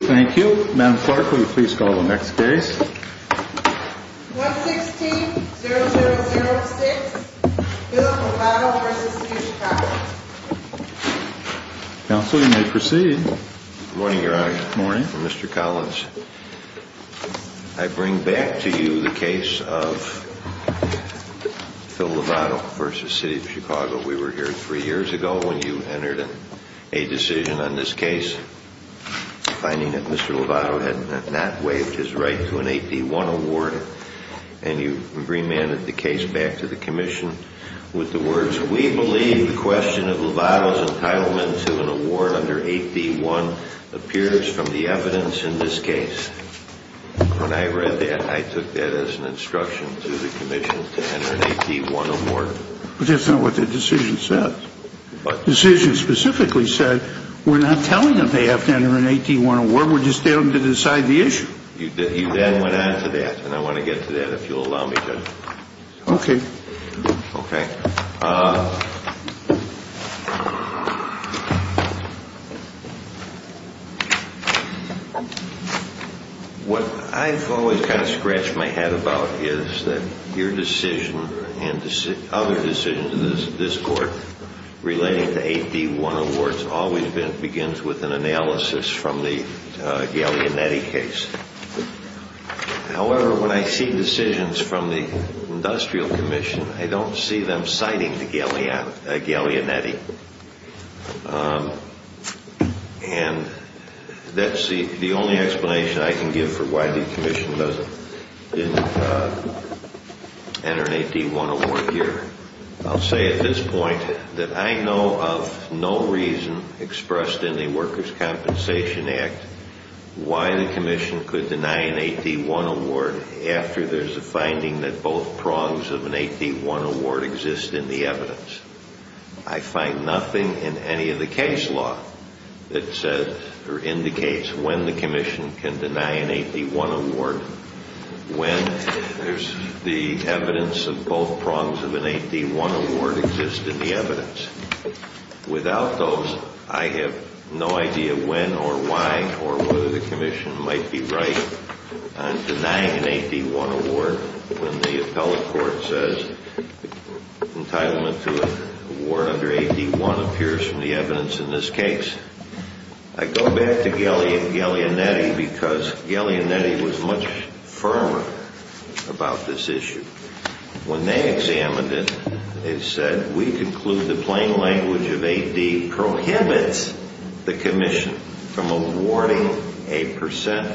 Thank you. Madam Clerk, will you please call the next case? 116-0006, Phil Lovato v. City of Chicago. Counsel, you may proceed. Good morning, Your Honor. Good morning. Mr. Collins, I bring back to you the case of Phil Lovato v. City of Chicago. We were here three years ago when you entered a decision on this case, finding that Mr. Lovato had not waived his right to an 8D1 award. And you remanded the case back to the Commission with the words, We believe the question of Lovato's entitlement to an award under 8D1 appears from the evidence in this case. When I read that, I took that as an instruction to the Commission to enter an 8D1 award. But that's not what the decision said. The decision specifically said we're not telling them they have to enter an 8D1 award. We're just telling them to decide the issue. You then went on to that, and I want to get to that if you'll allow me to. Okay. Okay. What I've always kind of scratched my head about is that your decision and other decisions in this court relating to 8D1 awards always begins with an analysis from the Gaglianetti case. However, when I see decisions from the Industrial Commission, I don't see them citing the Gaglianetti. And that's the only explanation I can give for why the Commission didn't enter an 8D1 award here. I'll say at this point that I know of no reason expressed in the Workers' Compensation Act why the Commission could deny an 8D1 award after there's a finding that both prongs of an 8D1 award exist in the evidence. I find nothing in any of the case law that says or indicates when the Commission can deny an 8D1 award when there's the evidence of both prongs of an 8D1 award exist in the evidence. Without those, I have no idea when or why or whether the Commission might be right on denying an 8D1 award when the appellate court says entitlement to an award under 8D1 appears from the evidence in this case. I go back to Gaglianetti because Gaglianetti was much firmer about this issue. When they examined it, they said, We conclude the plain language of 8D prohibits the Commission from awarding a percent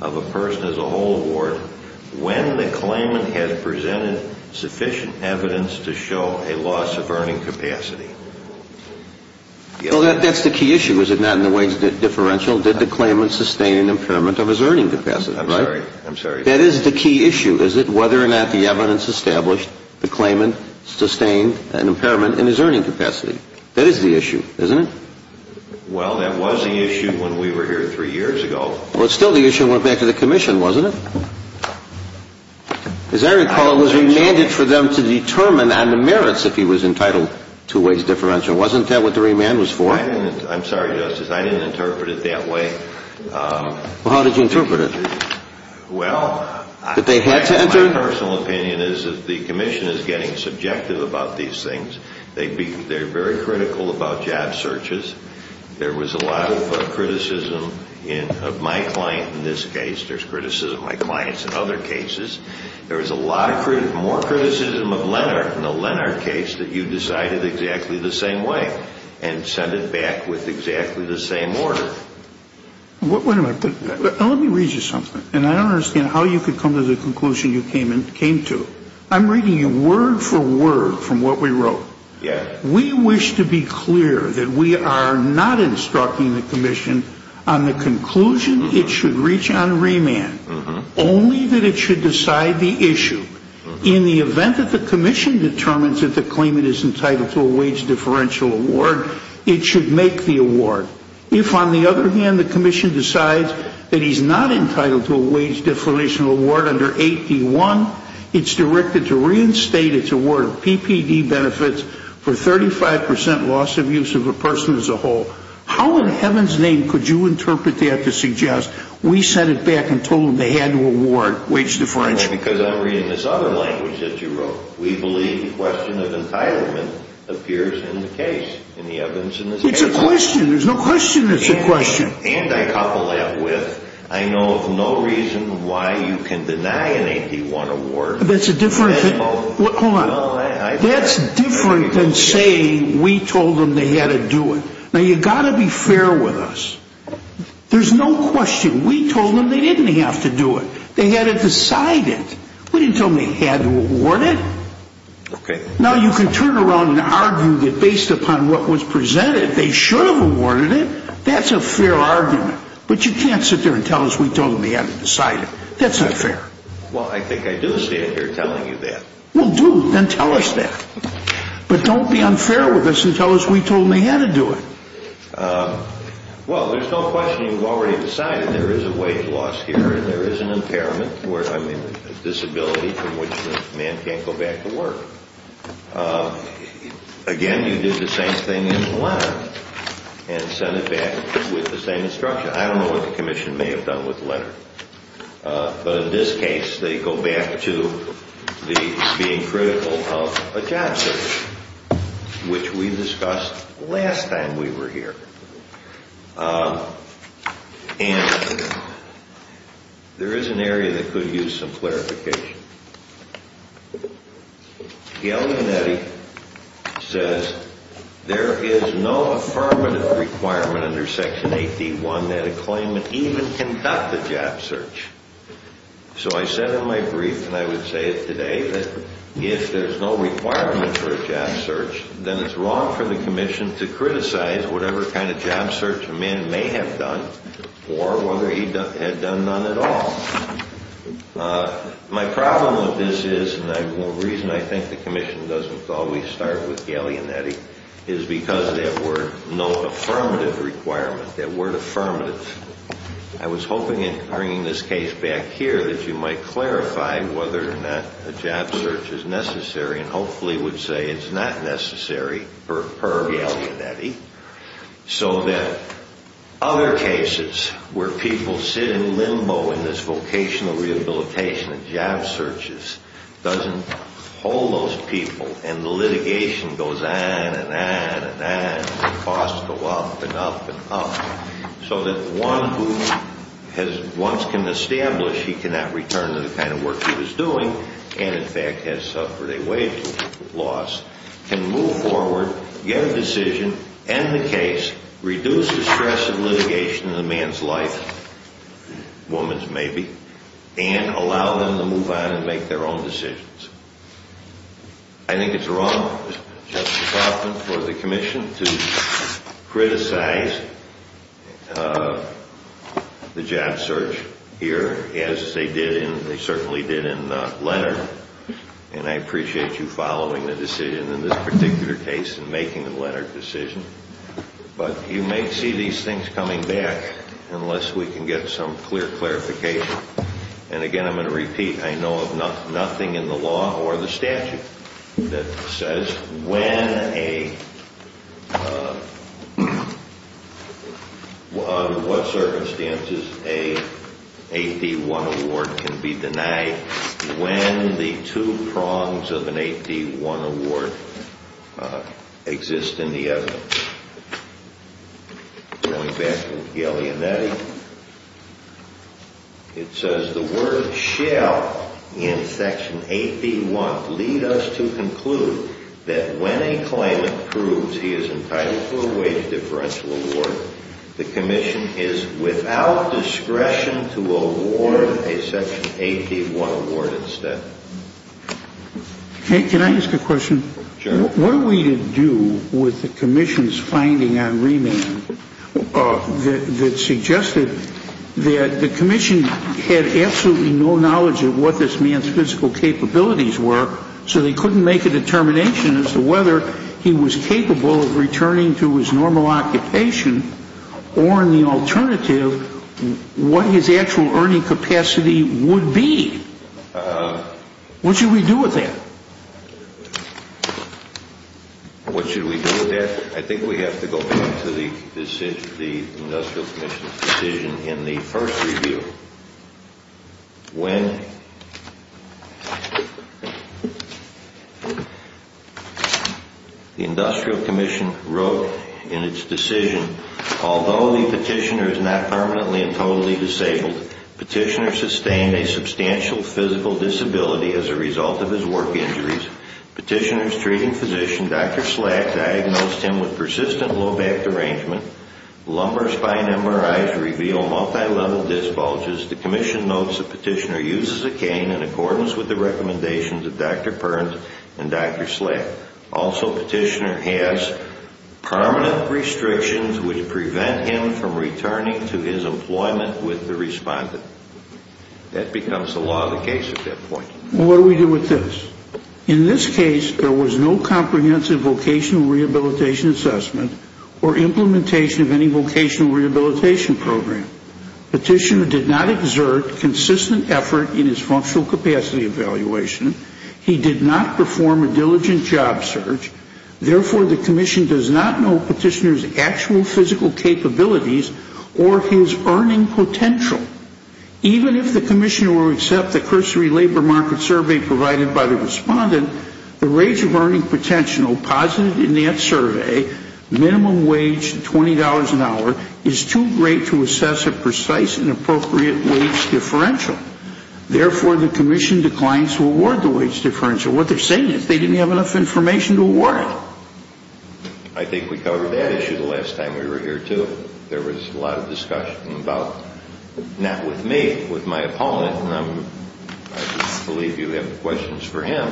of a person as a whole award when the claimant has presented sufficient evidence to show a loss of earning capacity. Well, that's the key issue, is it not, in the way it's differential? Did the claimant sustain an impairment of his earning capacity, right? I'm sorry. I'm sorry. That is the key issue, is it, whether or not the evidence established the claimant sustained an impairment in his earning capacity. That is the issue, isn't it? Well, that was the issue when we were here three years ago. Well, still the issue went back to the Commission, wasn't it? As I recall, it was remanded for them to determine on the merits if he was entitled to a wage differential. Wasn't that what the remand was for? I'm sorry, Justice. I didn't interpret it that way. Well, how did you interpret it? Well, my personal opinion is that the Commission is getting subjective about these things. They're very critical about job searches. There was a lot of criticism of my client in this case. There's criticism of my clients in other cases. There was a lot more criticism of Leonard in the Leonard case that you decided exactly the same way and sent it back with exactly the same order. Wait a minute. Let me read you something. And I don't understand how you could come to the conclusion you came to. I'm reading you word for word from what we wrote. Yes. We wish to be clear that we are not instructing the Commission on the conclusion it should reach on remand, only that it should decide the issue. In the event that the Commission determines that the claimant is entitled to a wage differential award, it should make the award. If, on the other hand, the Commission decides that he's not entitled to a wage differential award under 8D1, it's directed to reinstate its award of PPD benefits for 35 percent loss of use of a person as a whole. How in heaven's name could you interpret that to suggest we sent it back and told them they had to award wage differential? Because I'm reading this other language that you wrote. We believe the question of entitlement appears in the case, in the evidence in this case. It's a question. There's no question it's a question. And I couple that with I know of no reason why you can deny an 8D1 award. That's a different thing. Hold on. That's different than saying we told them they had to do it. Now, you've got to be fair with us. There's no question. We told them they didn't have to do it. They had to decide it. We didn't tell them they had to award it. Okay. Now, you can turn around and argue that based upon what was presented, they should have awarded it. That's a fair argument. But you can't sit there and tell us we told them they had to decide it. That's not fair. Well, I think I do stand here telling you that. Well, do. Then tell us that. But don't be unfair with us and tell us we told them they had to do it. Well, there's no question you've already decided there is a wage loss here and there is an impairment, I mean a disability from which the man can't go back to work. Again, you did the same thing in the letter and sent it back with the same instruction. I don't know what the commission may have done with the letter. But in this case, they go back to the being critical of a job search, which we discussed last time we were here. And there is an area that could use some clarification. Gale Yannetti says there is no affirmative requirement under Section 8D1 that a claimant even conduct a job search. So I said in my brief, and I would say it today, that if there's no requirement for a job search, then it's wrong for the commission to criticize whatever kind of job search a man may have done or whether he had done none at all. My problem with this is, and the reason I think the commission doesn't always start with Gale Yannetti, is because of that word, no affirmative requirement, that word affirmative. I was hoping in bringing this case back here that you might clarify whether or not a job search is necessary and hopefully would say it's not necessary per Gale Yannetti, so that other cases where people sit in limbo in this vocational rehabilitation and job searches doesn't hold those people and the litigation goes on and on and on and the costs go up and up and up, so that one who once can establish he cannot return to the kind of work he was doing and in fact has suffered a wage loss can move forward, get a decision, end the case, reduce the stress of litigation in a man's life, woman's maybe, and allow them to move on and make their own decisions. I think it's wrong, Justice Hoffman, for the commission to criticize the job search here, as they certainly did in Leonard, and I appreciate you following the decision in this particular case and making the Leonard decision, but you may see these things coming back unless we can get some clear clarification, and again I'm going to repeat, I know of nothing in the law or the statute that says when a, under what circumstances a 8D1 award can be denied, when the two prongs of an 8D1 award exist in the evidence. Going back to Gale Yannetti, it says, the word shall in section 8D1 lead us to conclude that when a claimant proves he is entitled to a wage differential award, the commission is without discretion to award a section 8D1 award instead. Can I ask a question? Sure. What are we to do with the commission's finding on remand that suggested that the commission had absolutely no knowledge of what this man's physical capabilities were, so they couldn't make a determination as to whether he was capable of returning to his normal occupation, or in the alternative, what his actual earning capacity would be? What should we do with that? What should we do with that? I think we have to go back to the industrial commission's decision in the first review. When the industrial commission wrote in its decision, although the petitioner is not permanently and totally disabled, petitioner sustained a substantial physical disability as a result of his work injuries. Petitioner's treating physician, Dr. Slack, diagnosed him with persistent low back derangement. Lumbar spine MRIs reveal multilevel disc bulges. The commission notes the petitioner uses a cane in accordance with the recommendations of Dr. Perns and Dr. Slack. Also, petitioner has permanent restrictions which prevent him from returning to his employment with the respondent. That becomes the law of the case at that point. What do we do with this? In this case, there was no comprehensive vocational rehabilitation assessment or implementation of any vocational rehabilitation program. Petitioner did not exert consistent effort in his functional capacity evaluation. He did not perform a diligent job search. Therefore, the commission does not know petitioner's actual physical capabilities or his earning potential. Even if the commissioner will accept the cursory labor market survey provided by the respondent, the range of earning potential posited in that survey, minimum wage $20 an hour, is too great to assess a precise and appropriate wage differential. Therefore, the commission declines to award the wage differential. What they're saying is they didn't have enough information to award it. I think we covered that issue the last time we were here, too. There was a lot of discussion about, not with me, with my opponent, and I believe you have questions for him,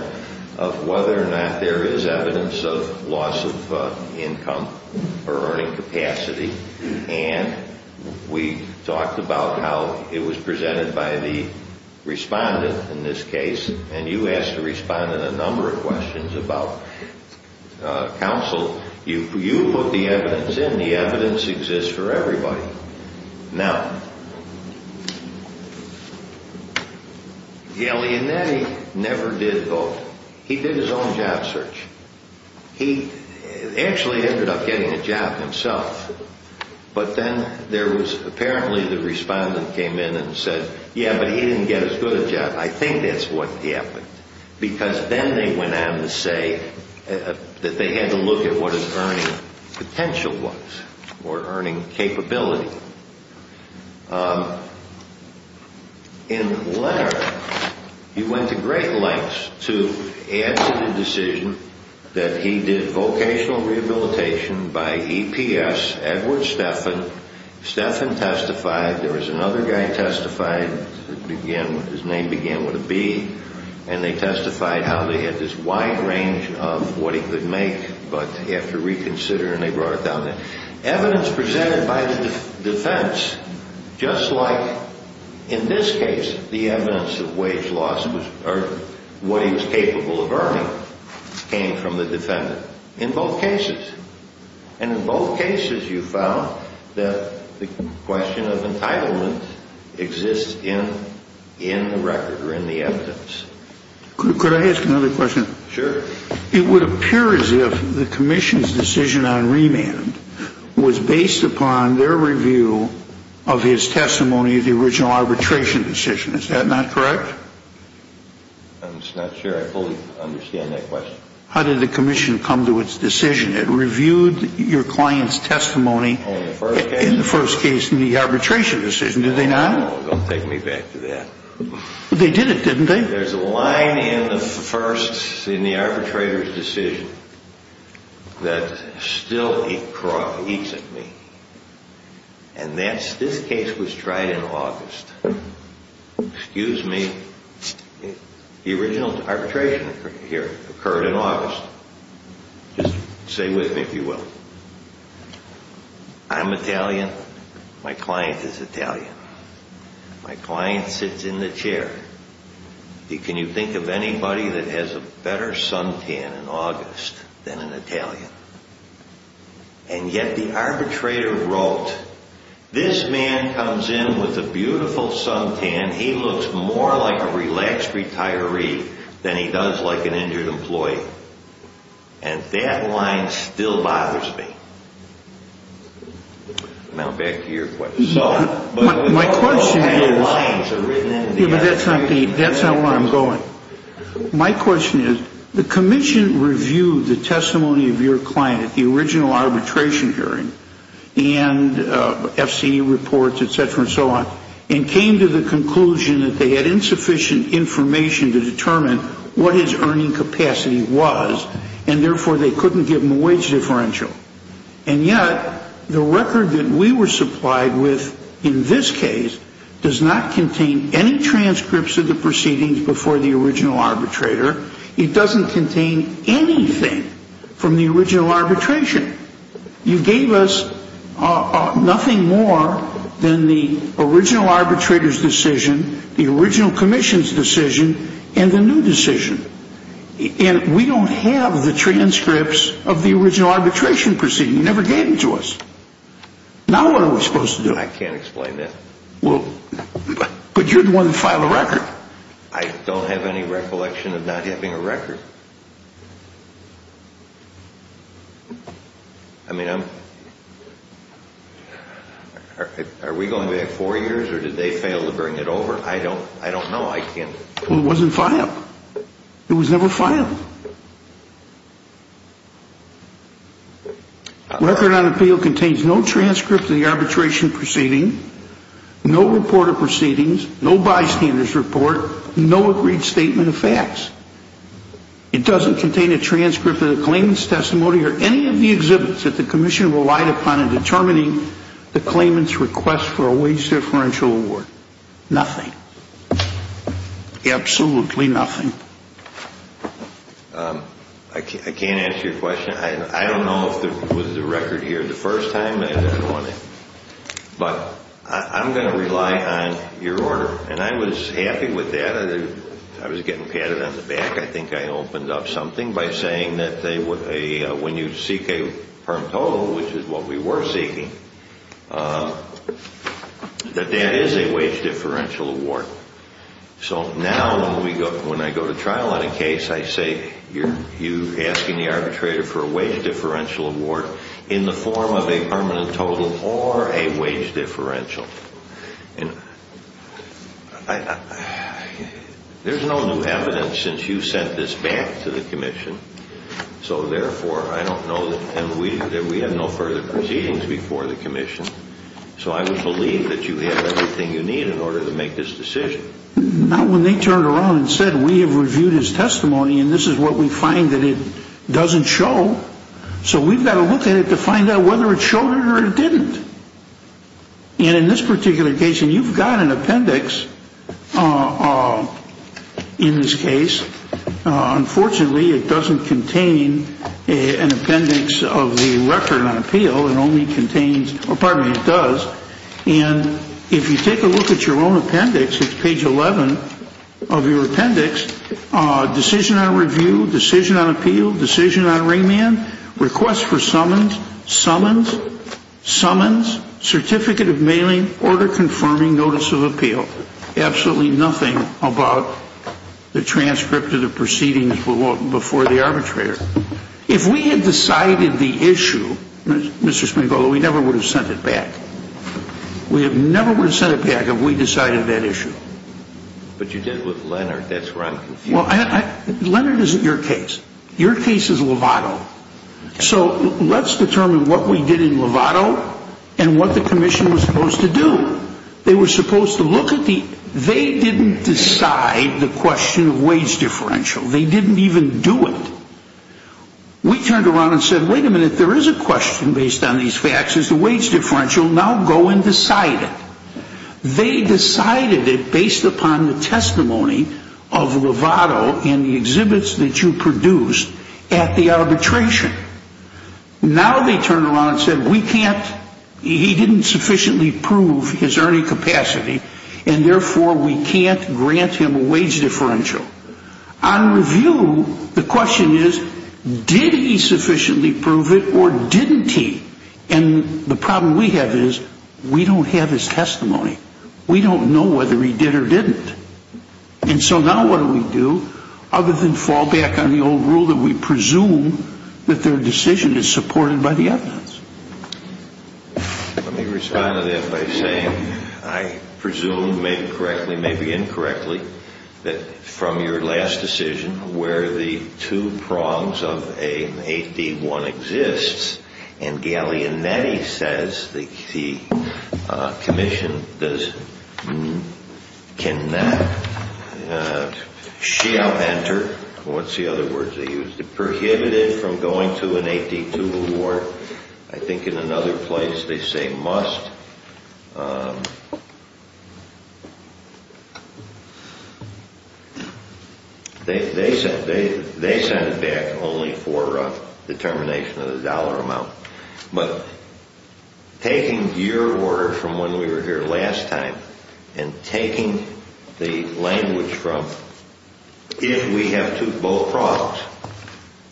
of whether or not there is evidence of loss of income or earning capacity. And we talked about how it was presented by the respondent in this case, and you asked the respondent a number of questions about counsel. You put the evidence in. The evidence exists for everybody. Now, Galeanetti never did both. He did his own job search. He actually ended up getting a job himself, but then there was apparently the respondent came in and said, yeah, but he didn't get as good a job. I think that's what happened, because then they went on to say that they had to look at what his earning potential was or earning capability. In letter, he went to great lengths to add to the decision that he did vocational rehabilitation by EPS, Edward Stephan. Stephan testified. There was another guy who testified. His name began with a B, and they testified how they had this wide range of what he could make, but he had to reconsider, and they brought it down there. Evidence presented by the defense, just like in this case the evidence of wage loss or what he was capable of earning, came from the defendant in both cases. And in both cases, you found that the question of entitlement exists in the record or in the evidence. Could I ask another question? Sure. It would appear as if the commission's decision on remand was based upon their review of his testimony of the original arbitration decision. Is that not correct? I'm just not sure I fully understand that question. How did the commission come to its decision? It reviewed your client's testimony in the first case in the arbitration decision, did they not? Oh, don't take me back to that. They did it, didn't they? There's a line in the arbitrator's decision that still eats at me, and this case was tried in August. Excuse me. The original arbitration here occurred in August. Just stay with me, if you will. I'm Italian. My client is Italian. My client sits in the chair. Can you think of anybody that has a better suntan in August than an Italian? And yet the arbitrator wrote, this man comes in with a beautiful suntan. He looks more like a relaxed retiree than he does like an injured employee. And that line still bothers me. Now back to your question. My question is, but that's not where I'm going. My question is, the commission reviewed the testimony of your client at the original arbitration hearing and FCE reports, et cetera, and so on, and came to the conclusion that they had insufficient information to determine what his earning capacity was, and therefore they couldn't give him a wage differential. And yet the record that we were supplied with in this case does not contain any transcripts of the proceedings before the original arbitrator. It doesn't contain anything from the original arbitration. You gave us nothing more than the original arbitrator's decision, the original commission's decision, and the new decision. And we don't have the transcripts of the original arbitration proceeding. You never gave them to us. Now what are we supposed to do? I can't explain that. Well, but you're the one that filed the record. I don't have any recollection of not having a record. I mean, are we going back four years or did they fail to bring it over? I don't know. Well, it wasn't filed. It was never filed. Record on appeal contains no transcript of the arbitration proceeding, no report of proceedings, no bystander's report, no agreed statement of facts. It doesn't contain a transcript of the claimant's testimony or any of the exhibits that the commission relied upon in determining the claimant's request for a wage differential award. Nothing. Absolutely nothing. I can't answer your question. I don't know if it was the record here the first time. But I'm going to rely on your order. And I was happy with that. I was getting patted on the back. I think I opened up something by saying that when you seek a perm total, which is what we were seeking, that that is a wage differential award. So now when I go to trial on a case, I say, you're asking the arbitrator for a wage differential award in the form of a permanent total or a wage differential. There's no new evidence since you sent this back to the commission. So, therefore, I don't know that we have no further proceedings before the commission. So I would believe that you have everything you need in order to make this decision. Not when they turned around and said, we have reviewed his testimony, and this is what we find that it doesn't show. So we've got to look at it to find out whether it showed it or it didn't. And in this particular case, and you've got an appendix in this case. Unfortunately, it doesn't contain an appendix of the record on appeal. It only contains, or pardon me, it does. And if you take a look at your own appendix, it's page 11 of your appendix. Decision on review, decision on appeal, decision on remand, request for summons, summons, summons, absolutely nothing about the transcript of the proceedings before the arbitrator. If we had decided the issue, Mr. Spangolo, we never would have sent it back. We never would have sent it back if we decided that issue. But you did it with Leonard. That's where I'm confused. Well, Leonard isn't your case. Your case is Lovato. So let's determine what we did in Lovato and what the commission was supposed to do. They were supposed to look at the, they didn't decide the question of wage differential. They didn't even do it. We turned around and said, wait a minute, there is a question based on these facts, is the wage differential, now go and decide it. They decided it based upon the testimony of Lovato and the exhibits that you produced at the arbitration. Now they turned around and said we can't, he didn't sufficiently prove his earning capacity and therefore we can't grant him a wage differential. On review, the question is, did he sufficiently prove it or didn't he? And the problem we have is we don't have his testimony. We don't know whether he did or didn't. And so now what do we do other than fall back on the old rule that we presume that their decision is supported by the evidence? Let me respond to that by saying I presume, maybe correctly, maybe incorrectly, that from your last decision where the two prongs of an 8D1 exists and Gallianetti says the commission does, can not, shall enter, what's the other word they used, prohibited from going to an 8D2 award. I think in another place they say must. They sent it back only for determination of the dollar amount. But taking your order from when we were here last time and taking the language from if we have two bow prongs.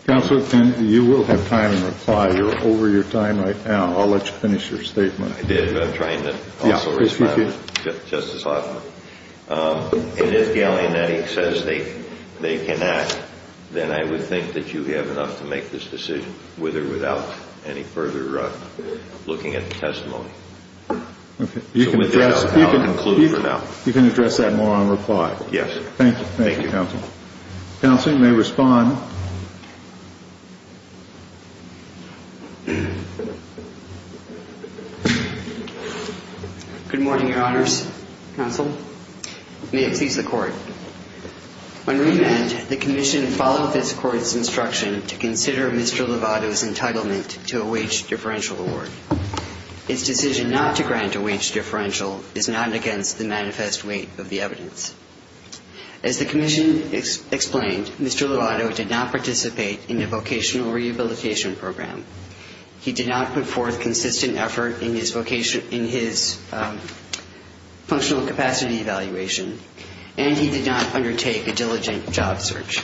Counselor, you will have time to reply. You're over your time right now. I'll let you finish your statement. I did, but I'm trying not to. And if Gallianetti says they cannot, then I would think that you have enough to make this decision with or without any further looking at the testimony. So with that, I'll conclude for now. You can address that more on reply. Yes. Thank you. Thank you, Counselor. Counselor, you may respond. Good morning, Your Honors. Counsel, may it please the Court. On remand, the commission followed this Court's instruction to consider Mr. Lovato's entitlement to a wage differential award. Its decision not to grant a wage differential is not against the manifest weight of the evidence. As the commission explained, Mr. Lovato did not participate in a vocational rehabilitation program. He did not put forth consistent effort in his functional capacity evaluation, and he did not undertake a diligent job search.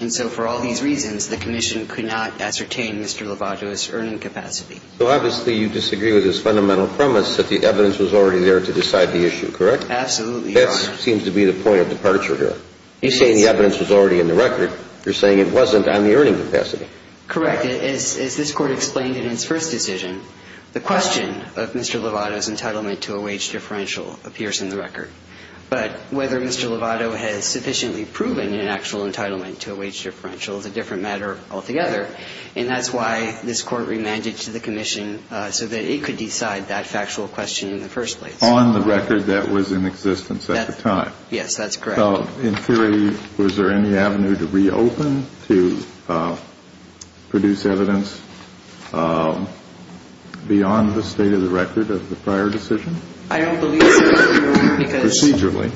And so for all these reasons, the commission could not ascertain Mr. Lovato's earning capacity. So obviously you disagree with his fundamental premise that the evidence was already there to decide the issue, correct? Absolutely, Your Honor. That seems to be the point of departure here. You say the evidence was already in the record. You're saying it wasn't on the earning capacity. Correct. As this Court explained in its first decision, the question of Mr. Lovato's entitlement to a wage differential appears in the record. But whether Mr. Lovato has sufficiently proven an actual entitlement to a wage differential is a different matter altogether, and that's why this Court remanded to the commission so that it could decide that factual question in the first place. On the record, that was in existence at the time. Yes, that's correct. In theory, was there any avenue to reopen, to produce evidence beyond the state of the record of the prior decision? I don't believe so, Your Honor, because... Procedurally.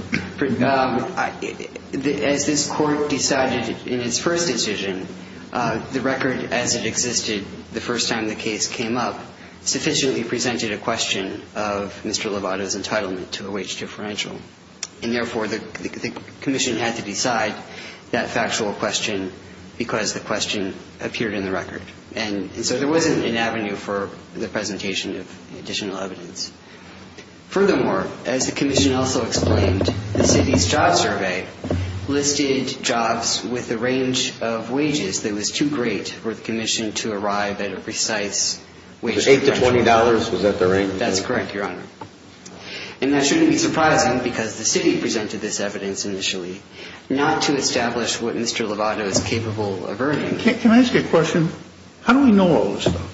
As this Court decided in its first decision, the record as it existed the first time the case came up sufficiently presented a question of Mr. Lovato's entitlement to a wage differential. And therefore, the commission had to decide that factual question because the question appeared in the record. And so there wasn't an avenue for the presentation of additional evidence. Furthermore, as the commission also explained, the city's job survey listed jobs with a range of wages that was too great for the commission to arrive at a precise wage differential. Eight to $20? Was that the range? That's correct, Your Honor. And that shouldn't be surprising because the city presented this evidence initially, not to establish what Mr. Lovato is capable of earning. Can I ask a question? How do we know all this stuff?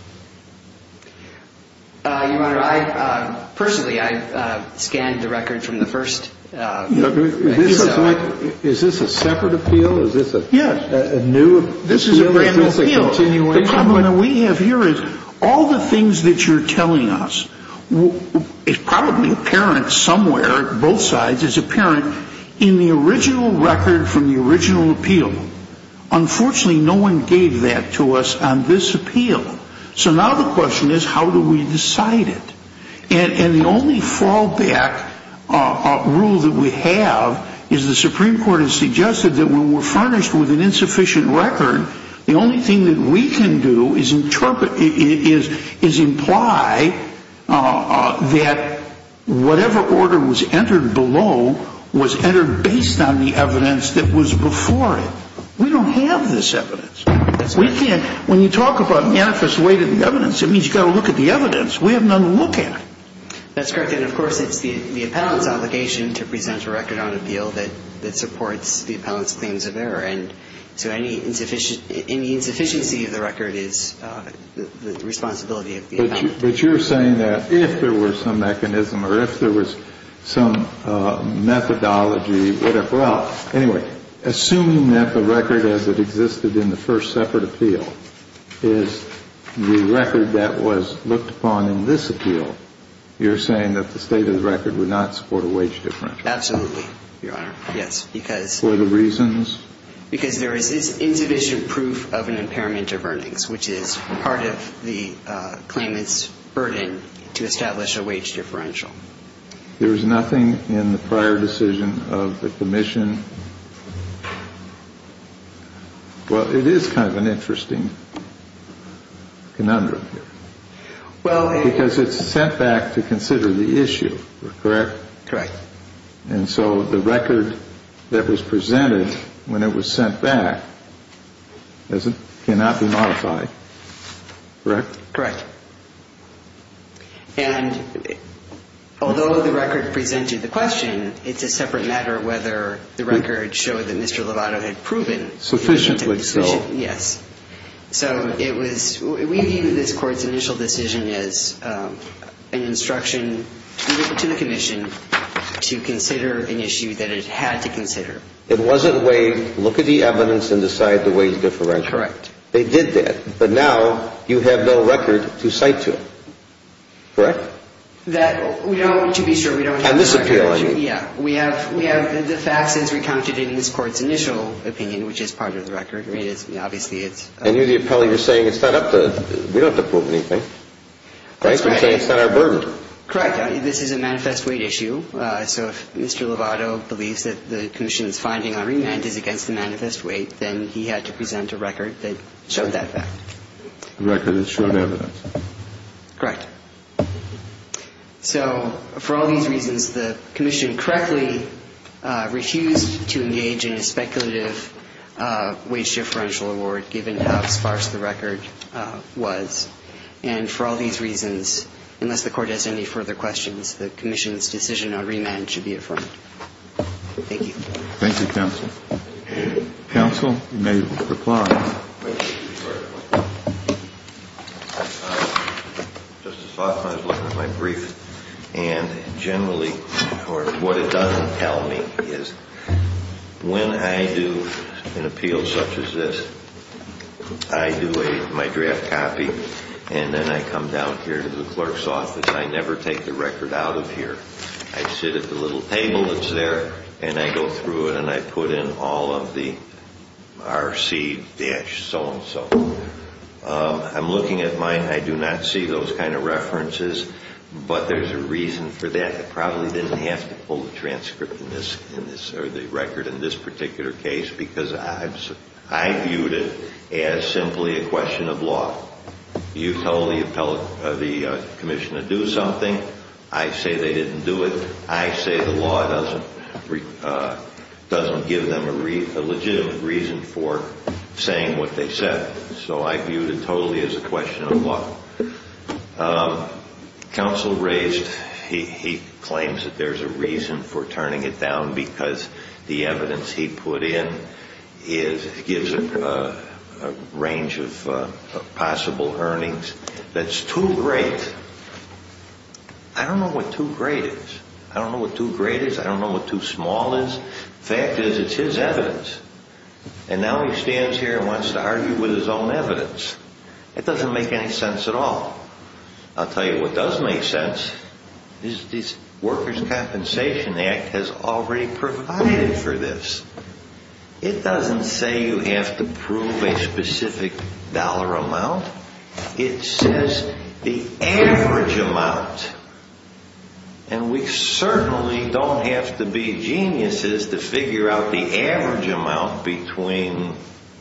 Your Honor, personally, I scanned the record from the first episode. Is this a separate appeal? Is this a new... This is a random appeal. The problem that we have here is all the things that you're telling us, it's probably apparent somewhere, both sides, it's apparent in the original record from the original appeal. Unfortunately, no one gave that to us on this appeal. So now the question is, how do we decide it? And the only fallback rule that we have is the Supreme Court has suggested that when we're furnished with an insufficient record, the only thing that we can do is imply that whatever order was entered below was entered based on the evidence that was before it. We don't have this evidence. When you talk about manifest weight of the evidence, it means you've got to look at the evidence. We have none to look at. That's correct. And, of course, it's the appellant's obligation to present a record on appeal that supports the appellant's claims of error. And so any insufficiency of the record is the responsibility of the appellant. But you're saying that if there were some mechanism or if there was some methodology, whatever, well, anyway, assuming that the record as it existed in the first separate appeal is the record that was looked upon in this appeal, you're saying that the state of the record would not support a wage difference? Absolutely, Your Honor. Yes. For the reasons? Because there is indivisible proof of an impairment of earnings, which is part of the claimant's burden to establish a wage differential. There is nothing in the prior decision of the commission? Well, it is kind of an interesting conundrum here. Because it's sent back to consider the issue, correct? Correct. And so the record that was presented when it was sent back cannot be modified, correct? Correct. And although the record presented the question, it's a separate matter whether the record showed that Mr. Lovato had proven. Sufficiently so. Yes. So it was we view this court's initial decision as an instruction to the commission to consider an issue that it had to consider. It wasn't waived, look at the evidence and decide the wage differential. Correct. They did that. But now you have no record to cite to, correct? That we don't, to be sure, we don't have the record. On this appeal, I mean. Yeah. We have the facts as recounted in this court's initial opinion, which is part of the record. I mean, obviously it's. I knew the appellee was saying it's not up to, we don't have to prove anything. That's right. It's not our burden. Correct. This is a manifest weight issue. So if Mr. Lovato believes that the commission's finding on remand is against the manifest weight, then he had to present a record that showed that fact. A record that showed evidence. Correct. So for all these reasons, the commission correctly refused to engage in a speculative wage differential award given how sparse the record was. And for all these reasons, unless the court has any further questions, the commission's decision on remand should be affirmed. Thank you. Thank you, counsel. Counsel, you may reply. Just as far as my brief, and generally what it doesn't tell me is when I do an appeal such as this, I do my draft copy and then I come down here to the clerk's office. I never take the record out of here. I sit at the little table that's there, and I go through it and I put in all of the R.C. dash so-and-so. I'm looking at mine. I do not see those kind of references, but there's a reason for that. I probably didn't have to pull the transcript in this or the record in this particular case because I viewed it as simply a question of law. You tell the commissioner to do something. I say they didn't do it. I say the law doesn't give them a legitimate reason for saying what they said. So I viewed it totally as a question of law. Counsel raised he claims that there's a reason for turning it down because the evidence he put in gives a range of possible earnings that's too great. I don't know what too great is. I don't know what too great is. I don't know what too small is. The fact is it's his evidence, and now he stands here and wants to argue with his own evidence. It doesn't make any sense at all. I'll tell you what does make sense. This Workers' Compensation Act has already provided for this. It doesn't say you have to prove a specific dollar amount. It says the average amount, and we certainly don't have to be geniuses to figure out the average amount between,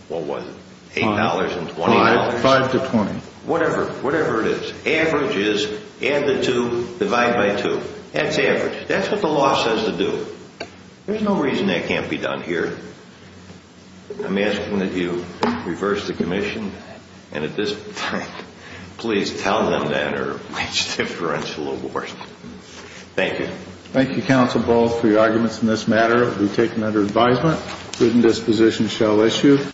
what was it, $8 and $20. Five to 20. Whatever. Whatever it is. Average is add the two, divide by two. That's average. That's what the law says to do. There's no reason that can't be done here. I'm asking that you reverse the commission, and at this point, please tell them that or wage differential award. Thank you. Thank you, Counsel Ball, for your arguments in this matter. It will be taken under advisement. Written disposition shall issue.